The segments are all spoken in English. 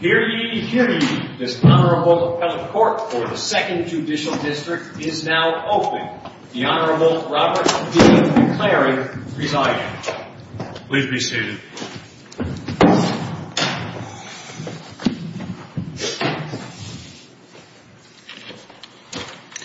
Hear ye, hear ye. This Honorable Appellate Court for the Second Judicial District is now open. The Honorable Robert D. McCleary presiding. Please be seated.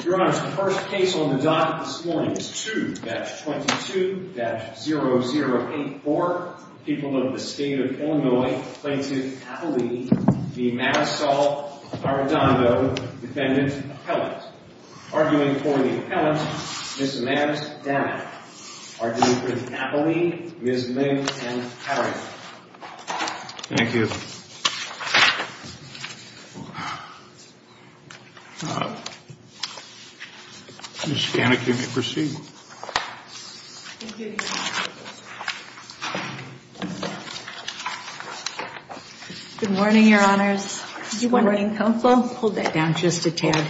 Your Honor, the first case on the docket this morning is 2-22-0084. Four people of the State of Illinois plaintiff's appellee, the Manasol Arredondo defendant's appellant. Arguing for the appellant, Ms. Mavs Danik. Arguing for the appellee, Ms. Lynn M. Haring. Thank you. Ms. Danik, you may proceed. Good morning, Your Honors. Good morning, Counsel. Hold that down just a tad.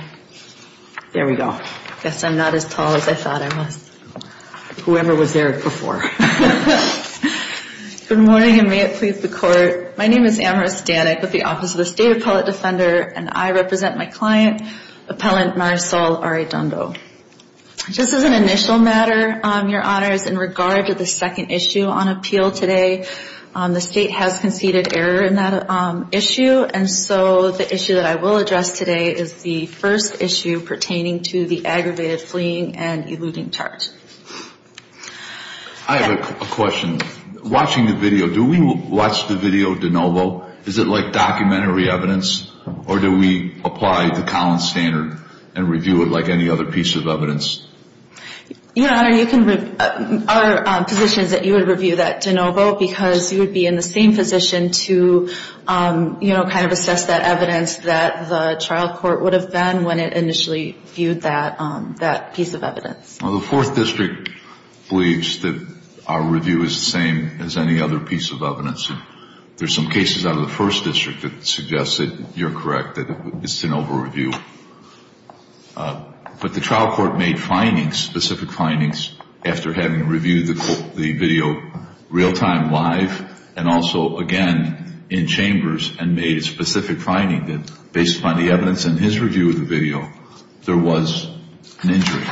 There we go. I guess I'm not as tall as I thought I was. Whoever was there before. Good morning, and may it please the Court. My name is Amaris Danik with the Office of the State Appellate Defender, and I represent my client, Appellant Manasol Arredondo. Just as an initial matter, Your Honors, in regard to the second issue on appeal today, the State has conceded error in that issue, and so the issue that I will address today is the first issue pertaining to the aggravated fleeing and eluding charge. I have a question. Watching the video, do we watch the video de novo? Is it like documentary evidence, or do we apply the Collins Standard and review it like any other piece of evidence? Your Honor, our position is that you would review that de novo because you would be in the same position to, you know, kind of assess that evidence that the trial court would have done when it initially viewed that piece of evidence. The Fourth District believes that our review is the same as any other piece of evidence. There are some cases out of the First District that suggest that you're correct, that it's de novo review. But the trial court made findings, specific findings, after having reviewed the video real-time, live, and also, again, in chambers, and made a specific finding that based upon the evidence in his review of the video, there was an injury.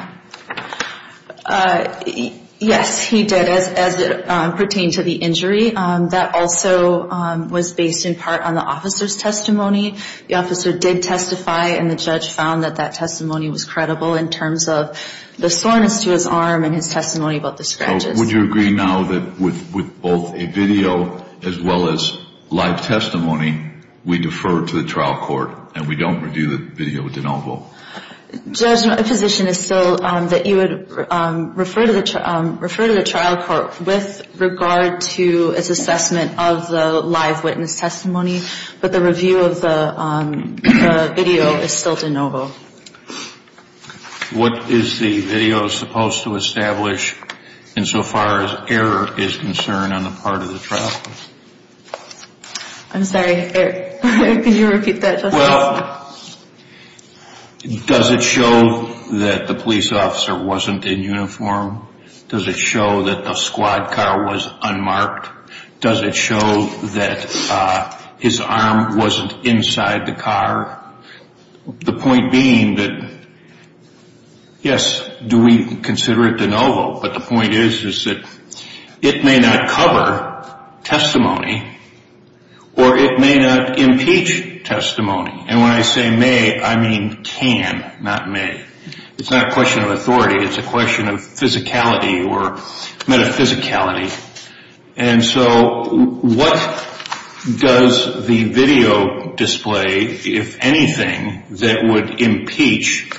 Yes, he did, as it pertained to the injury. That also was based in part on the officer's testimony. The officer did testify, and the judge found that that testimony was credible in terms of the soreness to his arm and his testimony about the scratches. So would you agree now that with both a video as well as live testimony, we defer to the trial court and we don't review the video de novo? Judge, my position is still that you would refer to the trial court with regard to its assessment of the live witness testimony, but the review of the video is still de novo. What is the video supposed to establish insofar as error is concerned on the part of the trial court? I'm sorry. Can you repeat that, Justice? Well, does it show that the police officer wasn't in uniform? Does it show that the squad car was unmarked? Does it show that his arm wasn't inside the car? The point being that, yes, do we consider it de novo, but the point is that it may not cover testimony or it may not impeach testimony. And when I say may, I mean can, not may. It's not a question of authority. It's a question of physicality or metaphysicality. And so what does the video display, if anything, that would impeach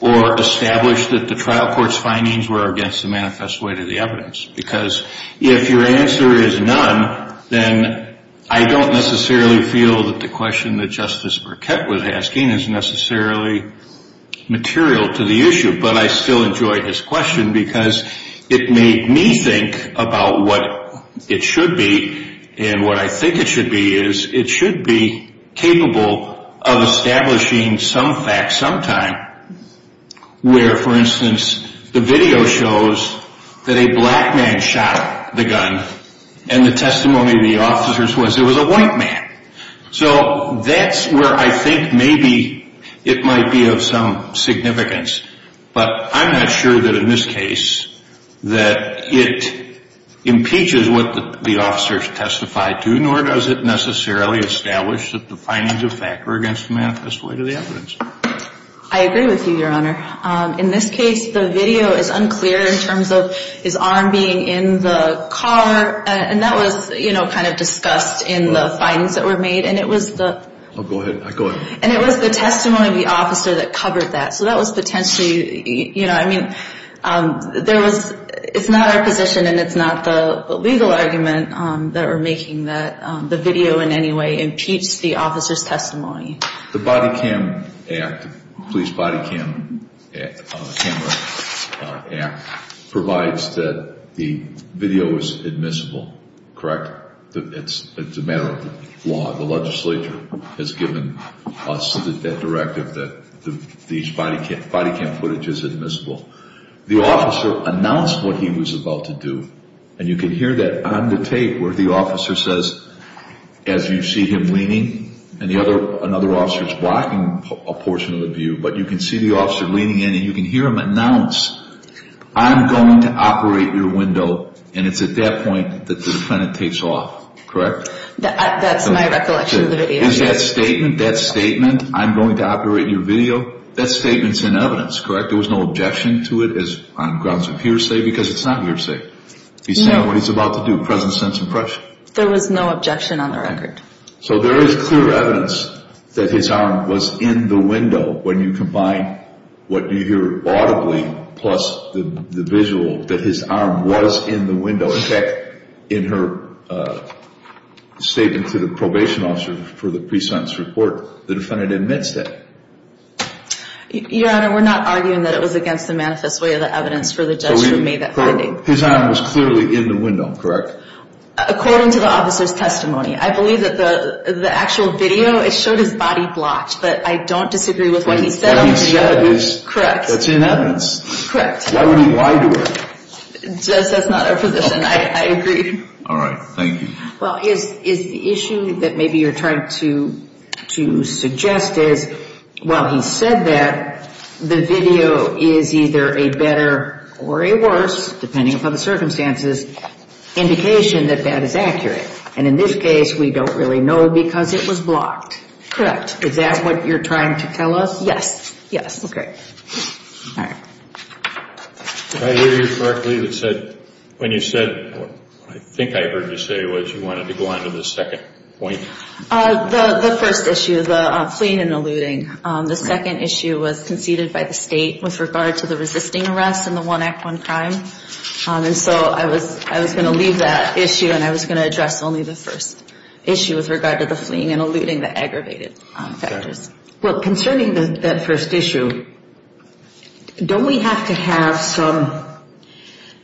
or establish that the trial court's findings were against the manifest way to the evidence? Because if your answer is none, then I don't necessarily feel that the question that Justice Burkett was asking is necessarily material to the issue. But I still enjoy his question because it made me think about what it should be. And what I think it should be is it should be capable of establishing some fact sometime where, for instance, the video shows that a black man shot the gun. And the testimony of the officers was it was a white man. So that's where I think maybe it might be of some significance. But I'm not sure that in this case that it impeaches what the officers testified to, nor does it necessarily establish that the findings of fact were against the manifest way to the evidence. I agree with you, Your Honor. In this case, the video is unclear in terms of his arm being in the car. And that was, you know, kind of discussed in the findings that were made. And it was the testimony of the officer that covered that. So that was potentially, you know, I mean, there was it's not our position and it's not the legal argument that we're making that the video in any way impeached the officer's testimony. The Body Cam Act, the Police Body Cam Act, provides that the video is admissible, correct? It's a matter of law. The legislature has given us that directive that these body cam footage is admissible. The officer announced what he was about to do. And you can hear that on the tape where the officer says, as you see him leaning and another officer is blocking a portion of the view. But you can see the officer leaning in and you can hear him announce, I'm going to operate your window. And it's at that point that the defendant takes off, correct? That's my recollection of the video. Is that statement, that statement, I'm going to operate your video, that statement's in evidence, correct? There was no objection to it on grounds of hearsay because it's not hearsay. He's saying what he's about to do, present sense impression. There was no objection on the record. So there is clear evidence that his arm was in the window when you combine what you hear audibly plus the visual that his arm was in the window. In fact, in her statement to the probation officer for the pre-sentence report, the defendant admits that. Your Honor, we're not arguing that it was against the manifest way of the evidence for the judge who made that finding. His arm was clearly in the window, correct? According to the officer's testimony. I believe that the actual video, it showed his body blocked. But I don't disagree with what he said on the video. What he said is, that's in evidence. Correct. Why would he lie to her? Judge, that's not our position. I agree. All right. Thank you. Well, is the issue that maybe you're trying to suggest is, well, he said that the video is either a better or a worse, depending upon the circumstances, indication that that is accurate. And in this case, we don't really know because it was blocked. Correct. Is that what you're trying to tell us? Yes, yes. Okay. All right. I hear you correctly that said, when you said, I think I heard you say what you wanted to go on to the second point. The first issue, the fleeing and eluding. The second issue was conceded by the state with regard to the resisting arrest in the One Act, One Crime. And so I was going to leave that issue and I was going to address only the first issue with regard to the fleeing and eluding, the aggravated factors. Well, concerning that first issue, don't we have to have some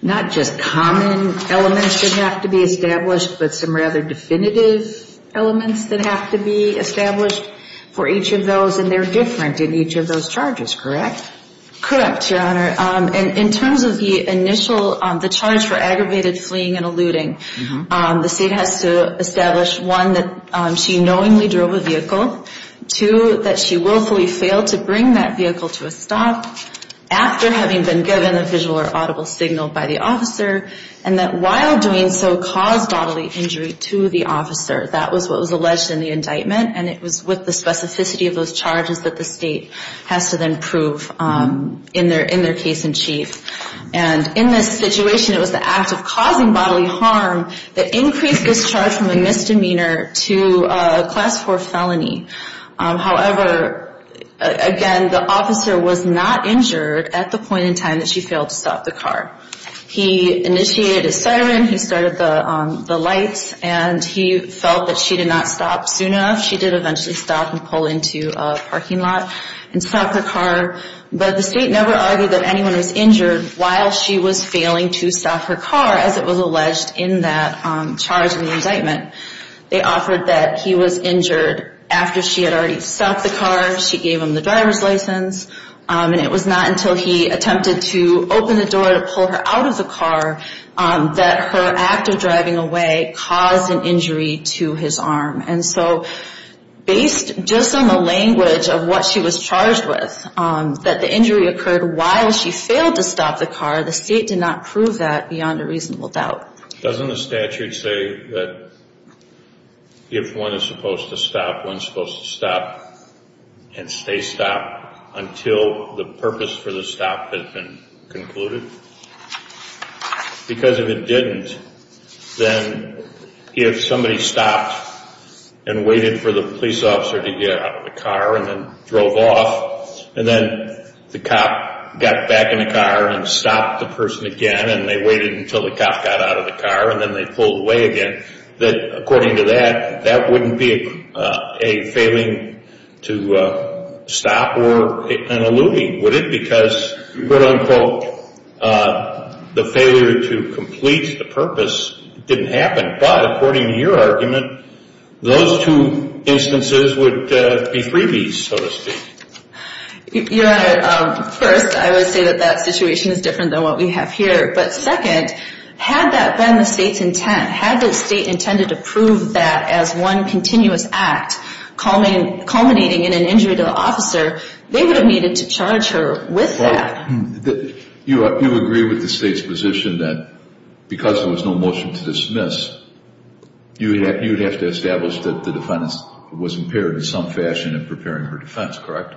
not just common elements that have to be established, but some rather definitive elements that have to be established for each of those? And they're different in each of those charges, correct? Correct, Your Honor. In terms of the initial, the charge for aggravated fleeing and eluding, the state has to establish, one, that she knowingly drove a vehicle. Two, that she willfully failed to bring that vehicle to a stop after having been given a visual or audible signal by the officer. And that while doing so caused bodily injury to the officer. That was what was alleged in the indictment and it was with the specificity of those charges that the state has to then prove in their case in chief. And in this situation, it was the act of causing bodily harm that increased this charge from a misdemeanor to a Class IV felony. However, again, the officer was not injured at the point in time that she failed to stop the car. He initiated a siren. He started the lights. And he felt that she did not stop soon enough. She did eventually stop and pull into a parking lot and stop her car. But the state never argued that anyone was injured while she was failing to stop her car, as it was alleged in that charge in the indictment. They offered that he was injured after she had already stopped the car. She gave him the driver's license. And it was not until he attempted to open the door to pull her out of the car that her act of driving away caused an injury to his arm. And so based just on the language of what she was charged with, that the injury occurred while she failed to stop the car, the state did not prove that beyond a reasonable doubt. Doesn't the statute say that if one is supposed to stop, one is supposed to stop and stay stopped until the purpose for the stop has been concluded? Because if it didn't, then if somebody stopped and waited for the police officer to get out of the car and then drove off, and then the cop got back in the car and stopped the person again and they waited until the cop got out of the car and then they pulled away again, that according to that, that wouldn't be a failing to stop or an eluding, would it? Because, quote unquote, the failure to complete the purpose didn't happen. But according to your argument, those two instances would be freebies, so to speak. Your Honor, first, I would say that that situation is different than what we have here. But second, had that been the state's intent, had the state intended to prove that as one continuous act culminating in an injury to the officer, they would have needed to charge her with that. You agree with the state's position that because there was no motion to dismiss, you would have to establish that the defendant was impaired in some fashion in preparing her defense, correct?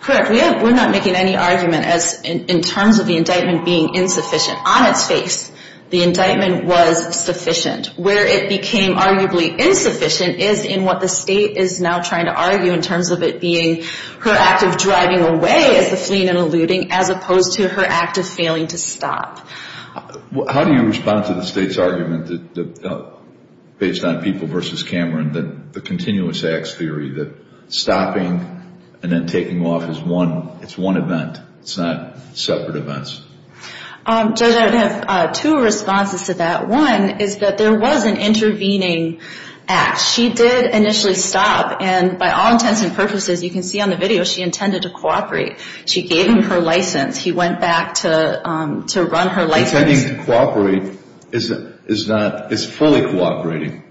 Correct. We're not making any argument in terms of the indictment being insufficient. On its face, the indictment was sufficient. Where it became arguably insufficient is in what the state is now trying to argue in terms of it being her act of driving away as the fleeing and eluding as opposed to her act of failing to stop. How do you respond to the state's argument based on People v. Cameron, the continuous acts theory, that stopping and then taking off is one event, it's not separate events? Judge, I would have two responses to that. One is that there was an intervening act. She did initially stop, and by all intents and purposes, you can see on the video, she intended to cooperate. She gave him her license. He went back to run her license. Intending to cooperate is fully cooperating.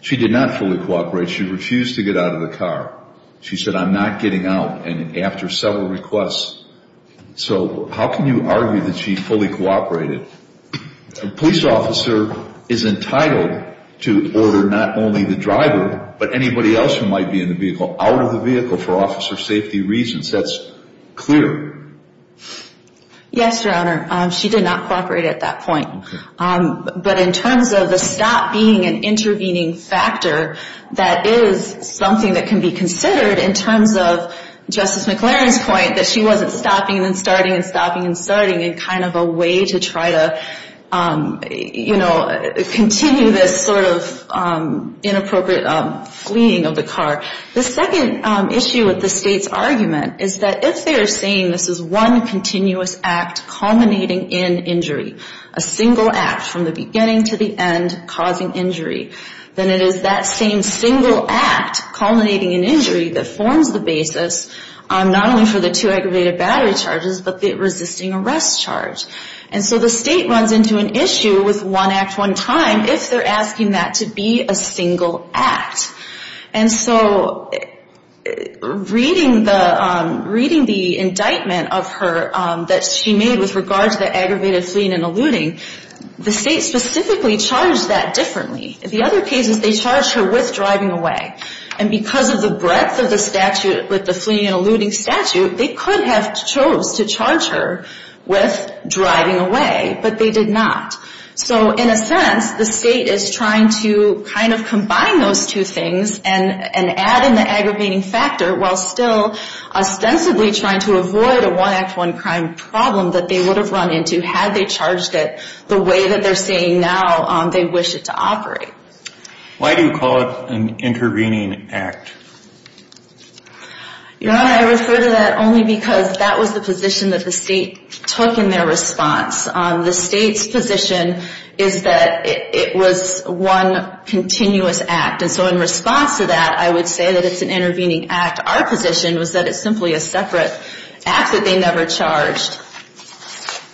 She did not fully cooperate. She refused to get out of the car. She said, I'm not getting out, and after several requests. So how can you argue that she fully cooperated? A police officer is entitled to order not only the driver, but anybody else who might be in the vehicle, out of the vehicle for officer safety reasons. That's clear. Yes, Your Honor. She did not cooperate at that point. But in terms of the stop being an intervening factor, that is something that can be considered in terms of Justice McLaren's point that she wasn't stopping and starting and stopping and starting in kind of a way to try to, you know, continue this sort of inappropriate fleeing of the car. The second issue with the State's argument is that if they are saying this is one continuous act culminating in injury, a single act from the beginning to the end causing injury, then it is that same single act culminating in injury that forms the basis not only for the two aggravated battery charges, but the resisting arrest charge. And so the State runs into an issue with one act, one time, if they're asking that to be a single act. And so reading the indictment of her that she made with regards to the aggravated fleeing and eluding, the State specifically charged that differently. In the other cases, they charged her with driving away. And because of the breadth of the statute with the fleeing and eluding statute, they could have chose to charge her with driving away, but they did not. So in a sense, the State is trying to kind of combine those two things and add in the aggravating factor while still ostensibly trying to avoid a one act, one crime problem that they would have run into had they charged it the way that they're saying now they wish it to operate. Why do you call it an intervening act? Your Honor, I refer to that only because that was the position that the State took in their response. The State's position is that it was one continuous act. And so in response to that, I would say that it's an intervening act. Our position was that it's simply a separate act that they never charged.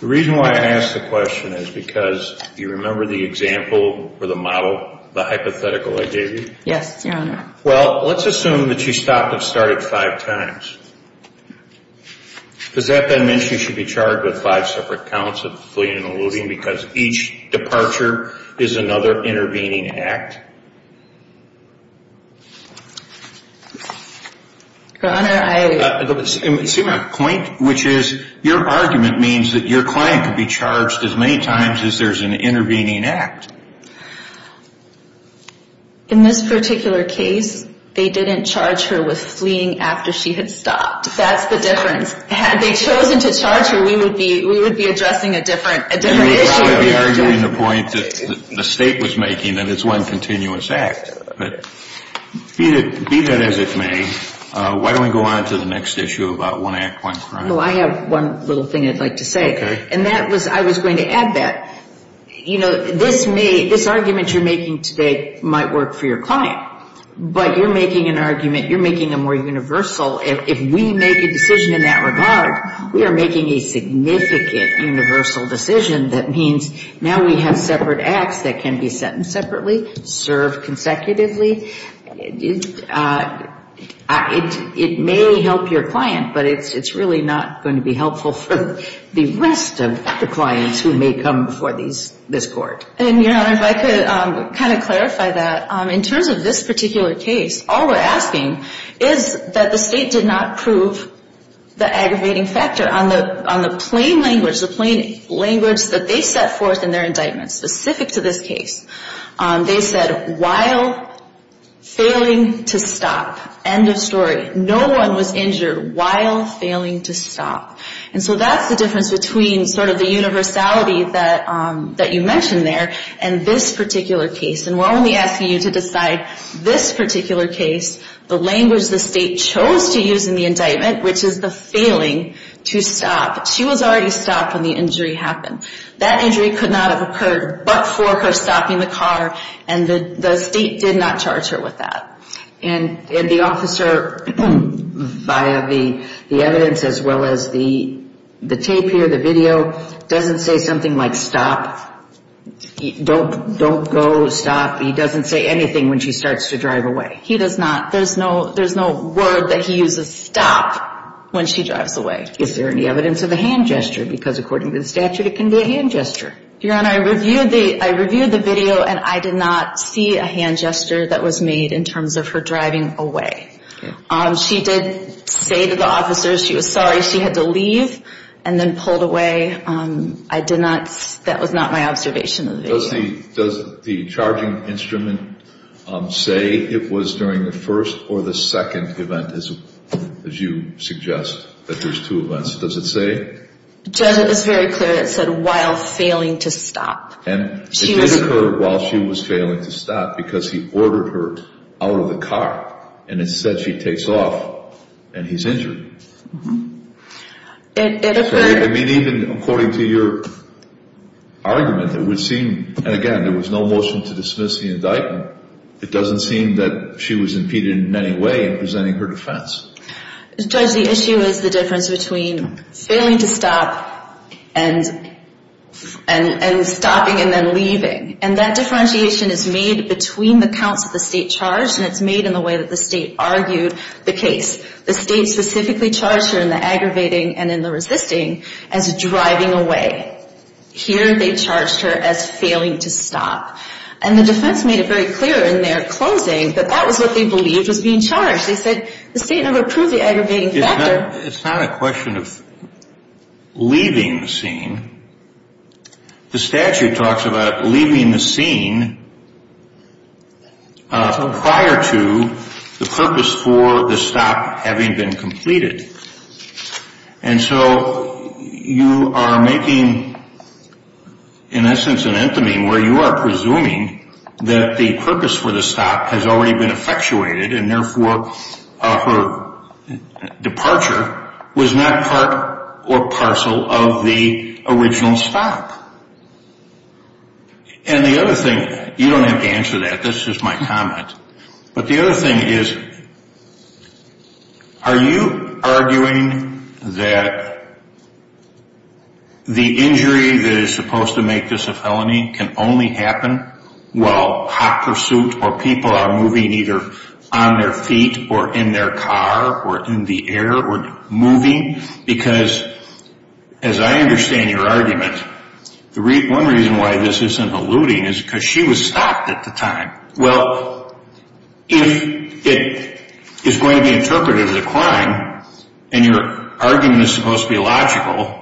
The reason why I ask the question is because you remember the example or the model, the hypothetical I gave you? Yes, Your Honor. Well, let's assume that you stopped and started five times. Does that then mean she should be charged with five separate counts of fleeing and eluding because each departure is another intervening act? Your Honor, I... See my point, which is your argument means that your client could be charged as many times as there's an intervening act. In this particular case, they didn't charge her with fleeing after she had stopped. That's the difference. Had they chosen to charge her, we would be addressing a different issue. You would be arguing the point that the State was making that it's one continuous act. But be that as it may, why don't we go on to the next issue about one act, one crime? Well, I have one little thing I'd like to say. Okay. And that was, I was going to add that. You know, this may, this argument you're making today might work for your client, but you're making an argument, you're making a more universal. If we make a decision in that regard, we are making a significant universal decision that means now we have separate acts that can be sentenced separately, served consecutively. It may help your client, but it's really not going to be helpful for the rest of the clients who may come before this Court. And, Your Honor, if I could kind of clarify that. In terms of this particular case, all we're asking is that the State did not prove the aggravating factor. On the plain language, the plain language that they set forth in their indictments specific to this case, they said, while failing to stop. End of story. No one was injured while failing to stop. And so that's the difference between sort of the universality that you mentioned there and this particular case. And we're only asking you to decide this particular case, the language the State chose to use in the indictment, which is the failing to stop. She was already stopped when the injury happened. That injury could not have occurred but for her stopping the car, and the State did not charge her with that. And the officer, via the evidence as well as the tape here, the video, doesn't say something like stop, don't go, stop. He doesn't say anything when she starts to drive away. He does not. There's no word that he uses, stop, when she drives away. Is there any evidence of a hand gesture? Because according to the statute, it can be a hand gesture. Your Honor, I reviewed the video and I did not see a hand gesture that was made in terms of her driving away. She did say to the officers she was sorry she had to leave and then pulled away. I did not – that was not my observation of the video. Judge, does the charging instrument say it was during the first or the second event, as you suggest, that there's two events? Does it say? Judge, it is very clear it said while failing to stop. And it did occur while she was failing to stop because he ordered her out of the car and it said she takes off and he's injured. It occurred – I mean, even according to your argument, it would seem – and again, there was no motion to dismiss the indictment. It doesn't seem that she was impeded in any way in presenting her defense. Judge, the issue is the difference between failing to stop and stopping and then leaving. And that differentiation is made between the counts of the state charge and it's made in the way that the state argued the case. The state specifically charged her in the aggravating and in the resisting as driving away. Here they charged her as failing to stop. And the defense made it very clear in their closing that that was what they believed was being charged. They said the state never approved the aggravating factor. The statute talks about leaving the scene prior to the purpose for the stop having been completed. And so you are making, in essence, an entomy where you are presuming that the purpose for the stop has already been effectuated and therefore her departure was not part or parcel of the original stop. And the other thing – you don't have to answer that. That's just my comment. But the other thing is, are you arguing that the injury that is supposed to make this a felony can only happen while hot pursuit or people are moving either on their feet or in their car or in the air or moving? Because as I understand your argument, one reason why this isn't alluding is because she was stopped at the time. Well, if it is going to be interpreted as a crime and your argument is supposed to be logical,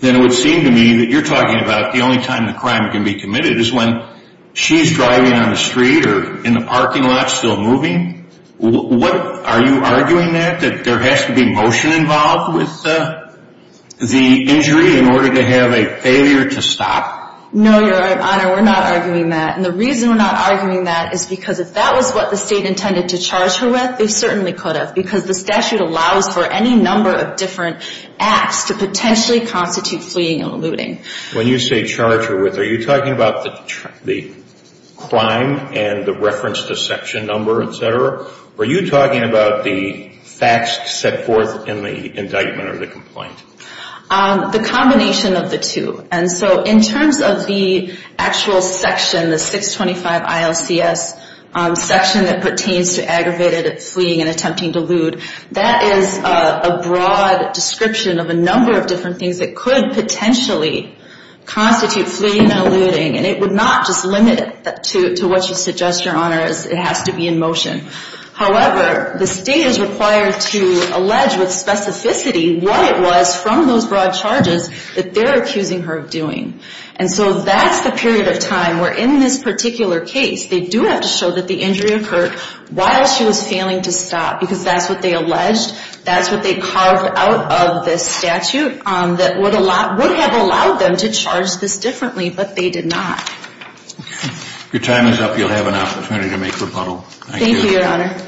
then it would seem to me that you're talking about the only time the crime can be committed is when she's driving on the street or in the parking lot still moving. Are you arguing that, that there has to be motion involved with the injury in order to have a failure to stop? No, Your Honor, we're not arguing that. And the reason we're not arguing that is because if that was what the State intended to charge her with, they certainly could have because the statute allows for any number of different acts to potentially constitute fleeing and eluding. When you say charge her with, are you talking about the crime and the reference to section number, et cetera? Or are you talking about the facts set forth in the indictment or the complaint? The combination of the two. And so in terms of the actual section, the 625 ILCS section that pertains to aggravated fleeing and attempting to elude, that is a broad description of a number of different things that could potentially constitute fleeing and eluding. And it would not just limit it to what you suggest, Your Honor, it has to be in motion. However, the State is required to allege with specificity what it was from those broad charges that they're accusing her of doing. And so that's the period of time where in this particular case, they do have to show that the injury occurred while she was failing to stop because that's what they alleged, that's what they carved out of this statute that would have allowed them to charge this differently, but they did not. Your time is up. You'll have an opportunity to make rebuttal. Thank you, Your Honor.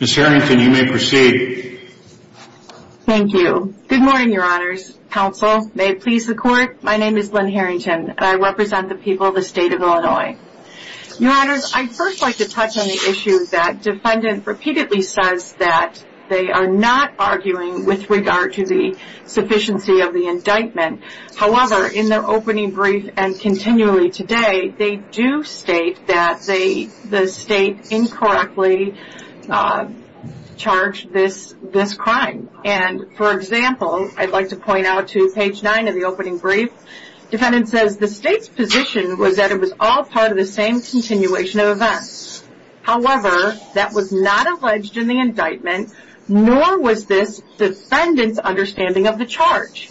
Ms. Harrington, you may proceed. Thank you. Good morning, Your Honors. Counsel, may it please the Court. My name is Lynn Harrington and I represent the people of the State of Illinois. Your Honors, I'd first like to touch on the issue that defendant repeatedly says that they are not arguing with regard to the sufficiency of the indictment. However, in their opening brief and continually today, they do state that the State incorrectly charged this crime. And, for example, I'd like to point out to page 9 of the opening brief, defendant says, the State's position was that it was all part of the same continuation of events. However, that was not alleged in the indictment, nor was this defendant's understanding of the charge.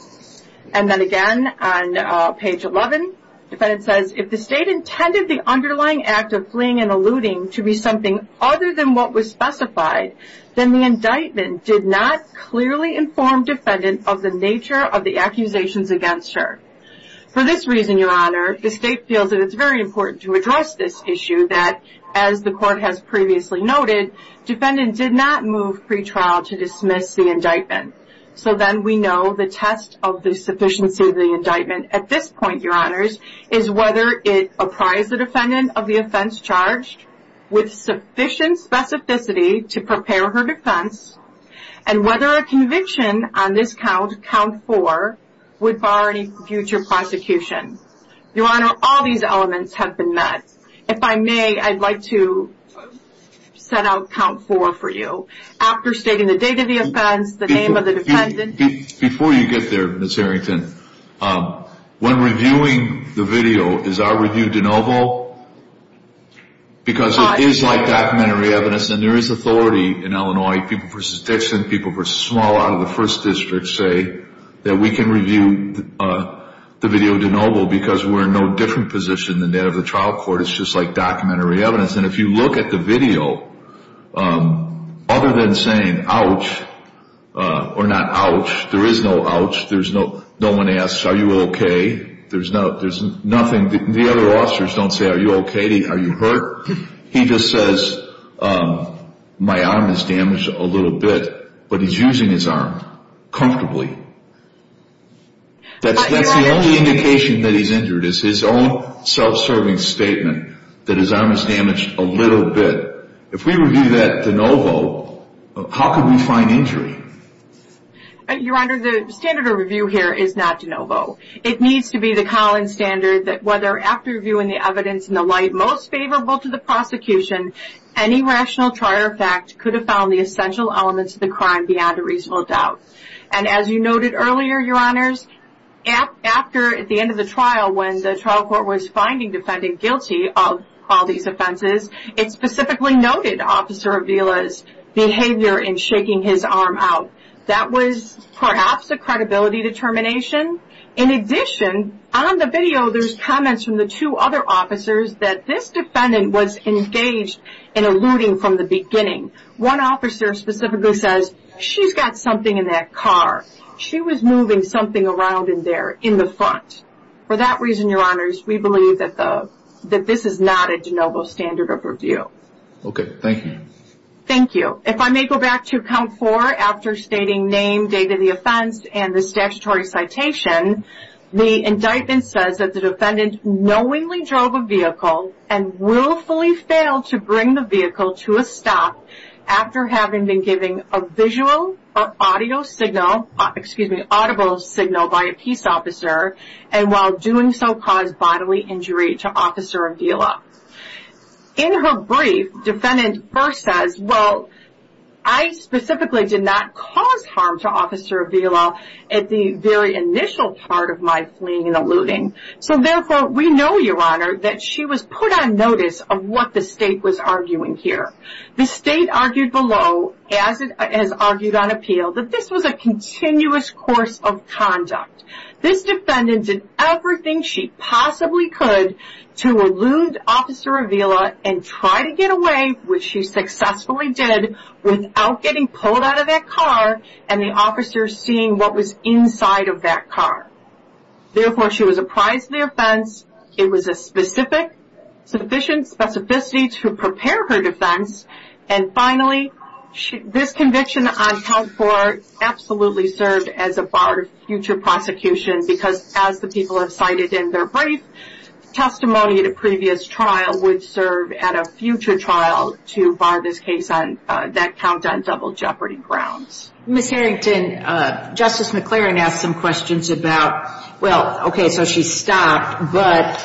And then again, on page 11, defendant says, if the State intended the underlying act of fleeing and eluding to be something other than what was specified, then the indictment did not clearly inform defendant of the nature of the accusations against her. For this reason, Your Honor, the State feels that it's very important to address this issue that, as the Court has previously noted, defendant did not move pretrial to dismiss the indictment. So then we know the test of the sufficiency of the indictment at this point, Your Honors, is whether it apprised the defendant of the offense charged with sufficient specificity to prepare her defense and whether a conviction on this count, count 4, would bar any future prosecution. Your Honor, all these elements have been met. If I may, I'd like to set out count 4 for you. After stating the date of the offense, the name of the defendant. Before you get there, Ms. Harrington, when reviewing the video, is our review de novo? Because it is like documentary evidence, and there is authority in Illinois, people v. Dixon, people v. Small out of the First District say that we can review the video de novo because we're in no different position than that of the trial court. It's just like documentary evidence. And if you look at the video, other than saying, ouch, or not ouch, there is no ouch. No one asks, are you okay? There's nothing. The other officers don't say, are you okay? Are you hurt? He just says, my arm is damaged a little bit, but he's using his arm comfortably. That's the only indication that he's injured is his own self-serving statement that his arm is damaged a little bit. If we review that de novo, how can we find injury? Your Honor, the standard of review here is not de novo. It needs to be the Collins standard that whether after reviewing the evidence in the light most favorable to the prosecution, any rational trial fact could have found the essential elements of the crime beyond a reasonable doubt. And as you noted earlier, Your Honors, after, at the end of the trial, when the trial court was finding the defendant guilty of all these offenses, it specifically noted Officer Avila's behavior in shaking his arm out. That was perhaps a credibility determination. In addition, on the video there's comments from the two other officers that this defendant was engaged in alluding from the beginning. One officer specifically says, she's got something in that car. She was moving something around in there in the front. For that reason, Your Honors, we believe that this is not a de novo standard of review. Okay, thank you. Thank you. If I may go back to count four, after stating name, date of the offense, and the statutory citation, the indictment says that the defendant knowingly drove a vehicle and willfully failed to bring the vehicle to a stop after having been given a visual or audio signal, excuse me, audible signal by a peace officer and while doing so caused bodily injury to Officer Avila. In her brief, defendant first says, well, I specifically did not cause harm to Officer Avila at the very initial part of my fleeing and alluding. So, therefore, we know, Your Honor, that she was put on notice of what the state was arguing here. The state argued below, as it has argued on appeal, that this was a continuous course of conduct. This defendant did everything she possibly could to allude Officer Avila and try to get away, which she successfully did, without getting pulled out of that car and the officer seeing what was inside of that car. Therefore, she was apprised of the offense. It was a specific, sufficient specificity to prepare her defense and finally, this conviction on count four absolutely served as a bar to future prosecution because as the people have cited in their brief, testimony at a previous trial would serve at a future trial to bar this case on, that count on double jeopardy grounds. Ms. Harrington, Justice McLaren asked some questions about, well, okay, so she stopped, but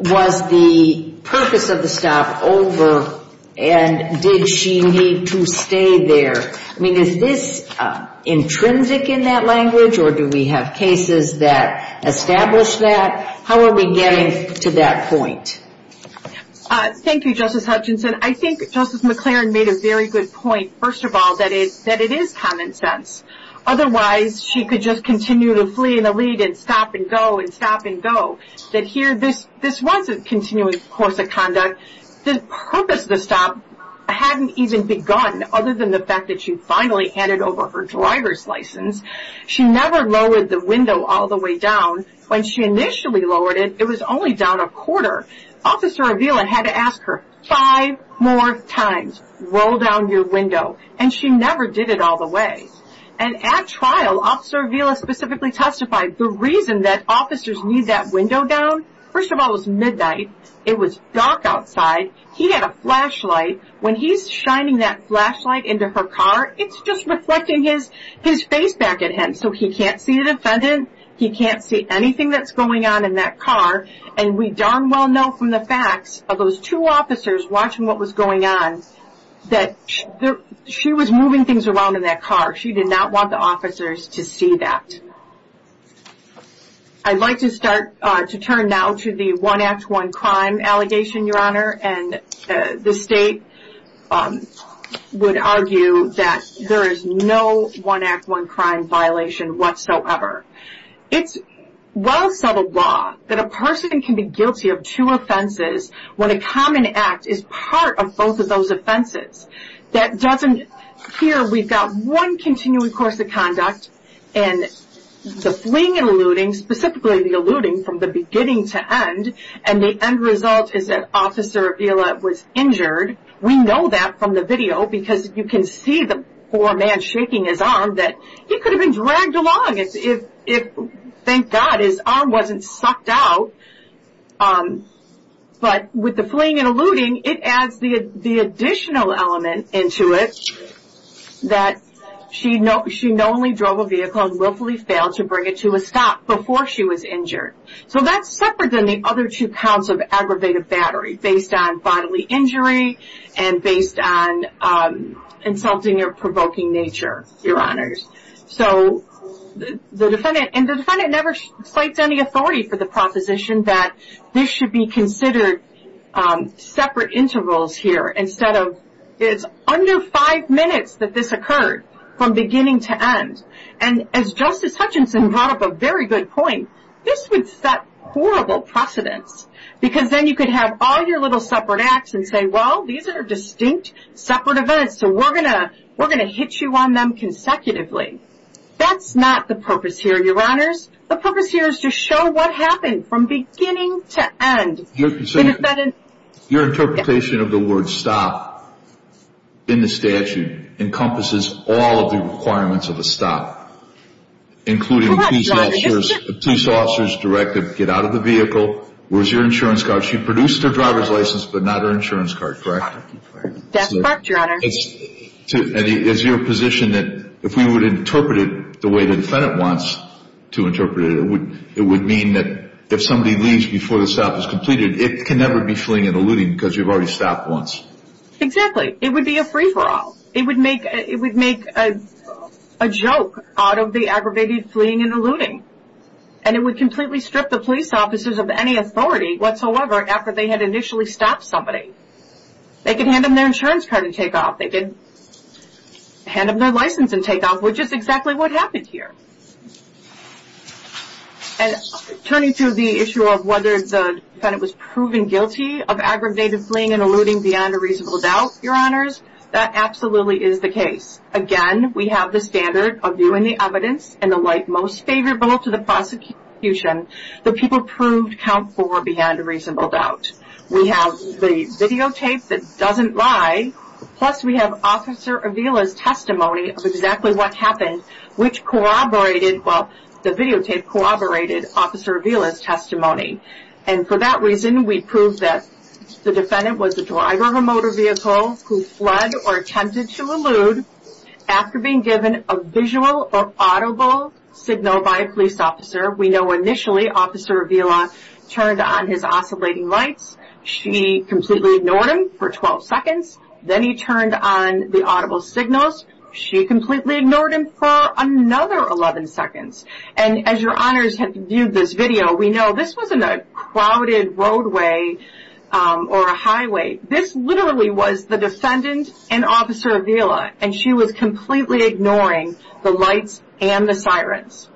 was the purpose of the stop over and did she need to stay there? I mean, is this intrinsic in that language or do we have cases that establish that? How are we getting to that point? Thank you, Justice Hutchinson. I think Justice McLaren made a very good point, first of all, that it is common sense. Otherwise, she could just continue to flee in the lead and stop and go and stop and go. That here, this was a continuing course of conduct. The purpose of the stop hadn't even begun other than the fact that she finally handed over her driver's license. She never lowered the window all the way down. When she initially lowered it, it was only down a quarter. Officer Avila had to ask her five more times, roll down your window, and she never did it all the way. And at trial, Officer Avila specifically testified the reason that officers need that window down. First of all, it was midnight. It was dark outside. He had a flashlight. When he's shining that flashlight into her car, it's just reflecting his face back at him. So he can't see the defendant. He can't see anything that's going on in that car. And we darn well know from the facts of those two officers watching what was going on that she was moving things around in that car. She did not want the officers to see that. I'd like to start to turn now to the one act, one crime allegation, Your Honor, and the state would argue that there is no one act, one crime violation whatsoever. It's well-settled law that a person can be guilty of two offenses when a common act is part of both of those offenses. That doesn't appear. We've got one continuing course of conduct, and the fleeing and eluding, specifically the eluding from the beginning to end, and the end result is that Officer Avila was injured. We know that from the video because you can see the poor man shaking his arm that he could have been dragged along. Thank God his arm wasn't sucked out. But with the fleeing and eluding, it adds the additional element into it that she not only drove a vehicle and willfully failed to bring it to a stop before she was injured. So that's separate than the other two counts of aggravated battery based on bodily injury and based on insulting or provoking nature, Your Honors. So the defendant never cites any authority for the proposition that this should be considered separate intervals here instead of it's under five minutes that this occurred from beginning to end. And as Justice Hutchinson brought up a very good point, this would set horrible precedents because then you could have all your little separate acts and say, well, these are distinct separate events, so we're going to hit you on them consecutively. That's not the purpose here, Your Honors. The purpose here is to show what happened from beginning to end. Your interpretation of the word stop in the statute encompasses all of the requirements of a stop, including a police officer's directive to get out of the vehicle. Where's your insurance card? She produced her driver's license but not her insurance card, correct? That's correct, Your Honors. Is your position that if we would interpret it the way the defendant wants to interpret it, it would mean that if somebody leaves before the stop is completed, it can never be fleeing and eluding because you've already stopped once? Exactly. It would be a free-for-all. It would make a joke out of the aggravated fleeing and eluding. And it would completely strip the police officers of any authority whatsoever after they had initially stopped somebody. They could hand them their insurance card and take off. They could hand them their license and take off, which is exactly what happened here. And turning to the issue of whether the defendant was proven guilty of aggravated fleeing and eluding beyond a reasonable doubt, Your Honors, that absolutely is the case. Again, we have the standard of viewing the evidence in the light most favorable to the prosecution that people proved count for beyond a reasonable doubt. We have the videotape that doesn't lie, plus we have Officer Avila's testimony of exactly what happened, which corroborated, well, the videotape corroborated Officer Avila's testimony. And for that reason, we prove that the defendant was a driver of a motor vehicle who fled or attempted to elude after being given a visual or audible signal by a police officer. We know initially Officer Avila turned on his oscillating lights. She completely ignored him for 12 seconds. Then he turned on the audible signals. She completely ignored him for another 11 seconds. And as Your Honors have viewed this video, we know this wasn't a crowded roadway or a highway. This literally was the defendant and Officer Avila, and she was completely ignoring the lights and the sirens.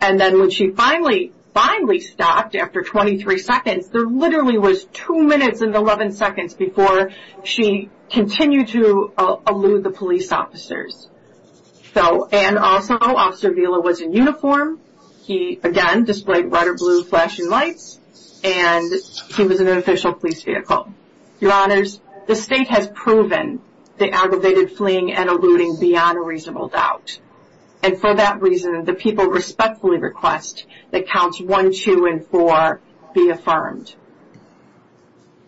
And then when she finally, finally stopped after 23 seconds, there literally was 2 minutes and 11 seconds before she continued to elude the police officers. So, and also, Officer Avila was in uniform. He, again, displayed red or blue flashing lights, and he was in an official police vehicle. Your Honors, the State has proven the aggravated fleeing and eluding beyond a reasonable doubt. And for that reason, the people respectfully request that Counts 1, 2, and 4 be affirmed.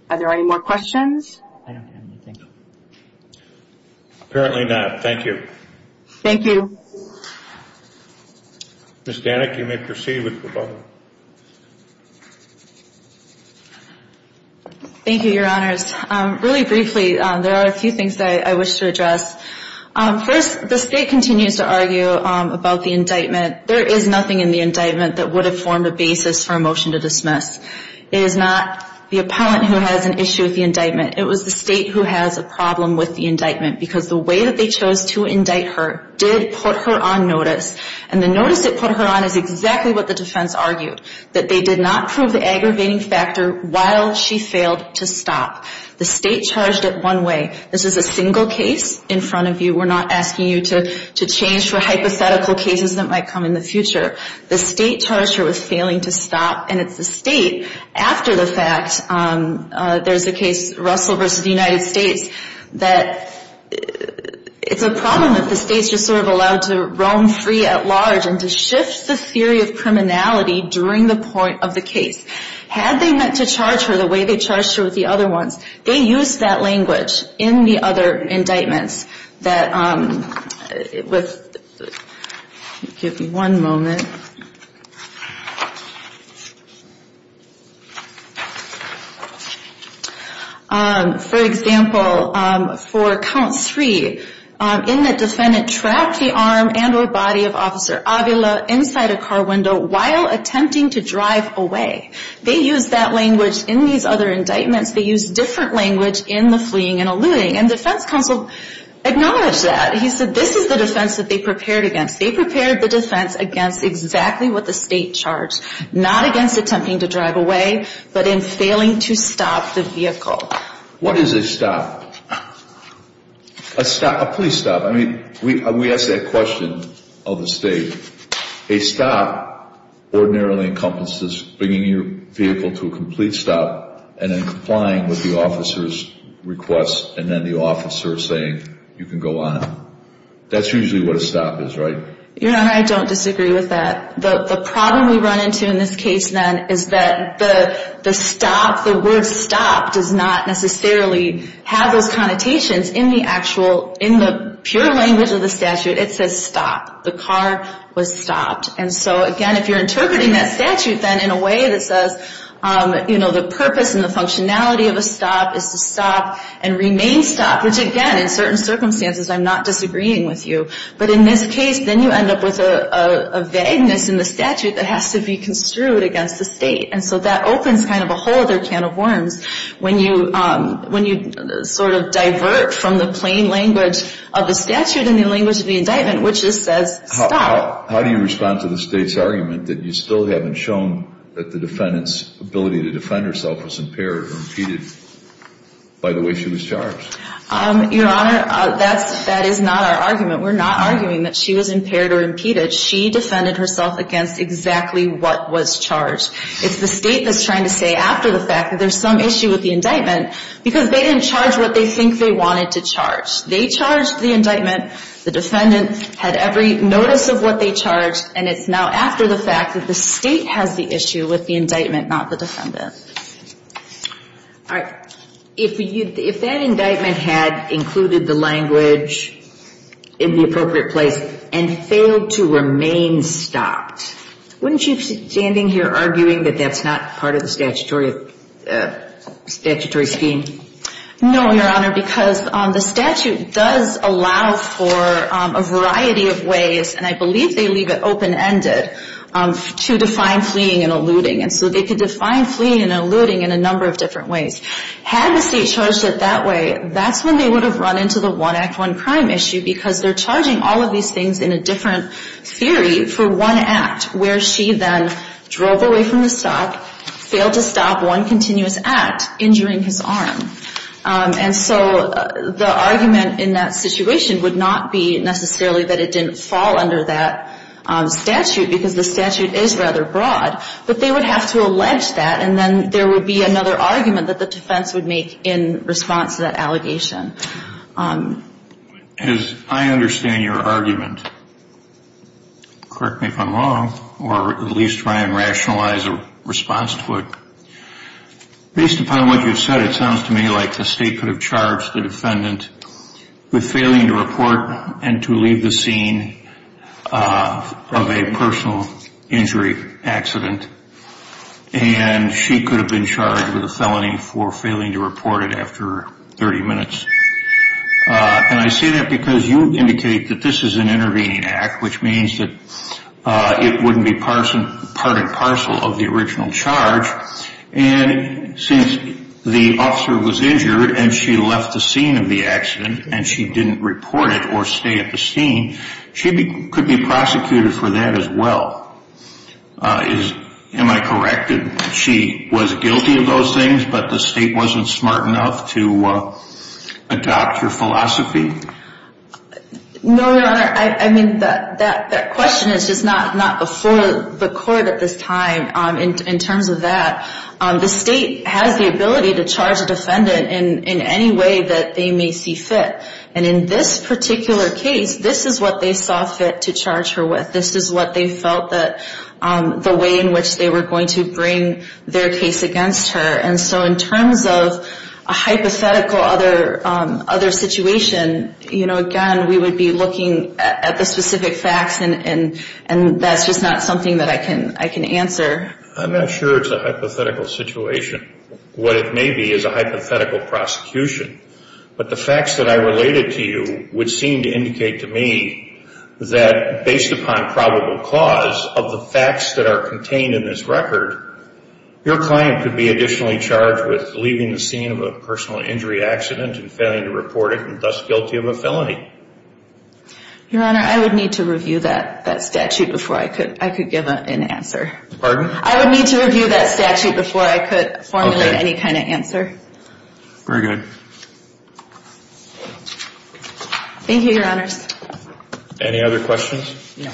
Are there any more questions? Apparently not. Thank you. Thank you. Ms. Danek, you may proceed with the vote. Thank you, Your Honors. First, the State continues to argue about the indictment. There is nothing in the indictment that would have formed a basis for a motion to dismiss. It is not the appellant who has an issue with the indictment. It was the State who has a problem with the indictment because the way that they chose to indict her did put her on notice. And the notice it put her on is exactly what the defense argued, that they did not prove the aggravating factor while she failed to stop. The State charged it one way. This is a single case in front of you. We're not asking you to change for hypothetical cases that might come in the future. The State charged her with failing to stop, and it's the State after the fact. There's a case, Russell v. United States, that it's a problem that the State's just sort of allowed to roam free at large and to shift the theory of criminality during the point of the case. Had they meant to charge her the way they charged her with the other ones, they used that language in the other indictments. Give me one moment. For example, for count three, in the defendant trapped the arm and or body of Officer Avila inside a car window while attempting to drive away. They used that language in these other indictments. They used different language in the fleeing and alluding, and defense counsel acknowledged that. He said this is the defense that they prepared against. They prepared the defense against exactly what the State charged, not against attempting to drive away, but in failing to stop the vehicle. What is a stop? A police stop. I mean, we asked that question of the State. A stop ordinarily encompasses bringing your vehicle to a complete stop and then complying with the officer's request and then the officer saying you can go on. That's usually what a stop is, right? Your Honor, I don't disagree with that. The problem we run into in this case, then, is that the word stop does not necessarily have those connotations. In the pure language of the statute, it says stop. The car was stopped. And so, again, if you're interpreting that statute, then, in a way that says, you know, the purpose and the functionality of a stop is to stop and remain stopped, which, again, in certain circumstances, I'm not disagreeing with you. But in this case, then you end up with a vagueness in the statute that has to be construed against the State. And so that opens kind of a whole other can of worms when you sort of divert from the plain language of the statute and the language of the indictment, which just says stop. How do you respond to the State's argument that you still haven't shown that the defendant's ability to defend herself was impaired or impeded by the way she was charged? Your Honor, that is not our argument. We're not arguing that she was impaired or impeded. She defended herself against exactly what was charged. It's the State that's trying to say after the fact that there's some issue with the indictment because they didn't charge what they think they wanted to charge. They charged the indictment. The defendant had every notice of what they charged. And it's now after the fact that the State has the issue with the indictment, not the defendant. All right. If that indictment had included the language in the appropriate place and failed to remain stopped, wouldn't you be standing here arguing that that's not part of the statutory scheme? No, Your Honor, because the statute does allow for a variety of ways, and I believe they leave it open-ended, to define fleeing and eluding. And so they could define fleeing and eluding in a number of different ways. Had the State charged it that way, that's when they would have run into the one act, one crime issue because they're charging all of these things in a different theory for one act, where she then drove away from the stop, failed to stop one continuous act, injuring his arm. And so the argument in that situation would not be necessarily that it didn't fall under that statute because the statute is rather broad, but they would have to allege that, and then there would be another argument that the defense would make in response to that allegation. As I understand your argument, correct me if I'm wrong, or at least try and rationalize a response to it. Based upon what you've said, it sounds to me like the State could have charged the defendant with failing to report and to leave the scene of a personal injury accident, and she could have been charged with a felony for failing to report it after 30 minutes. And I say that because you indicate that this is an intervening act, which means that it wouldn't be part and parcel of the original charge. And since the officer was injured and she left the scene of the accident and she didn't report it or stay at the scene, she could be prosecuted for that as well. Am I correct in that she was guilty of those things, but the State wasn't smart enough to adopt her philosophy? No, Your Honor. I mean, that question is just not before the court at this time in terms of that. The State has the ability to charge a defendant in any way that they may see fit. And in this particular case, this is what they saw fit to charge her with. This is what they felt that the way in which they were going to bring their case against her. And so in terms of a hypothetical other situation, you know, again, we would be looking at the specific facts, and that's just not something that I can answer. I'm not sure it's a hypothetical situation. What it may be is a hypothetical prosecution. But the facts that I related to you would seem to indicate to me that based upon probable cause of the facts that are contained in this record, your client could be additionally charged with leaving the scene of a personal injury accident and failing to report it and thus guilty of a felony. Your Honor, I would need to review that statute before I could give an answer. Pardon? I would need to review that statute before I could formulate any kind of answer. Okay. Very good. Thank you, Your Honors. Any other questions? No.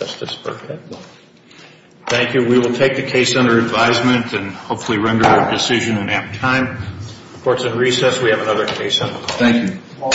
Justice Burkett. Thank you. We will take the case under advisement and hopefully render our decision in half time. Court's in recess. We have another case on the call. Thank you.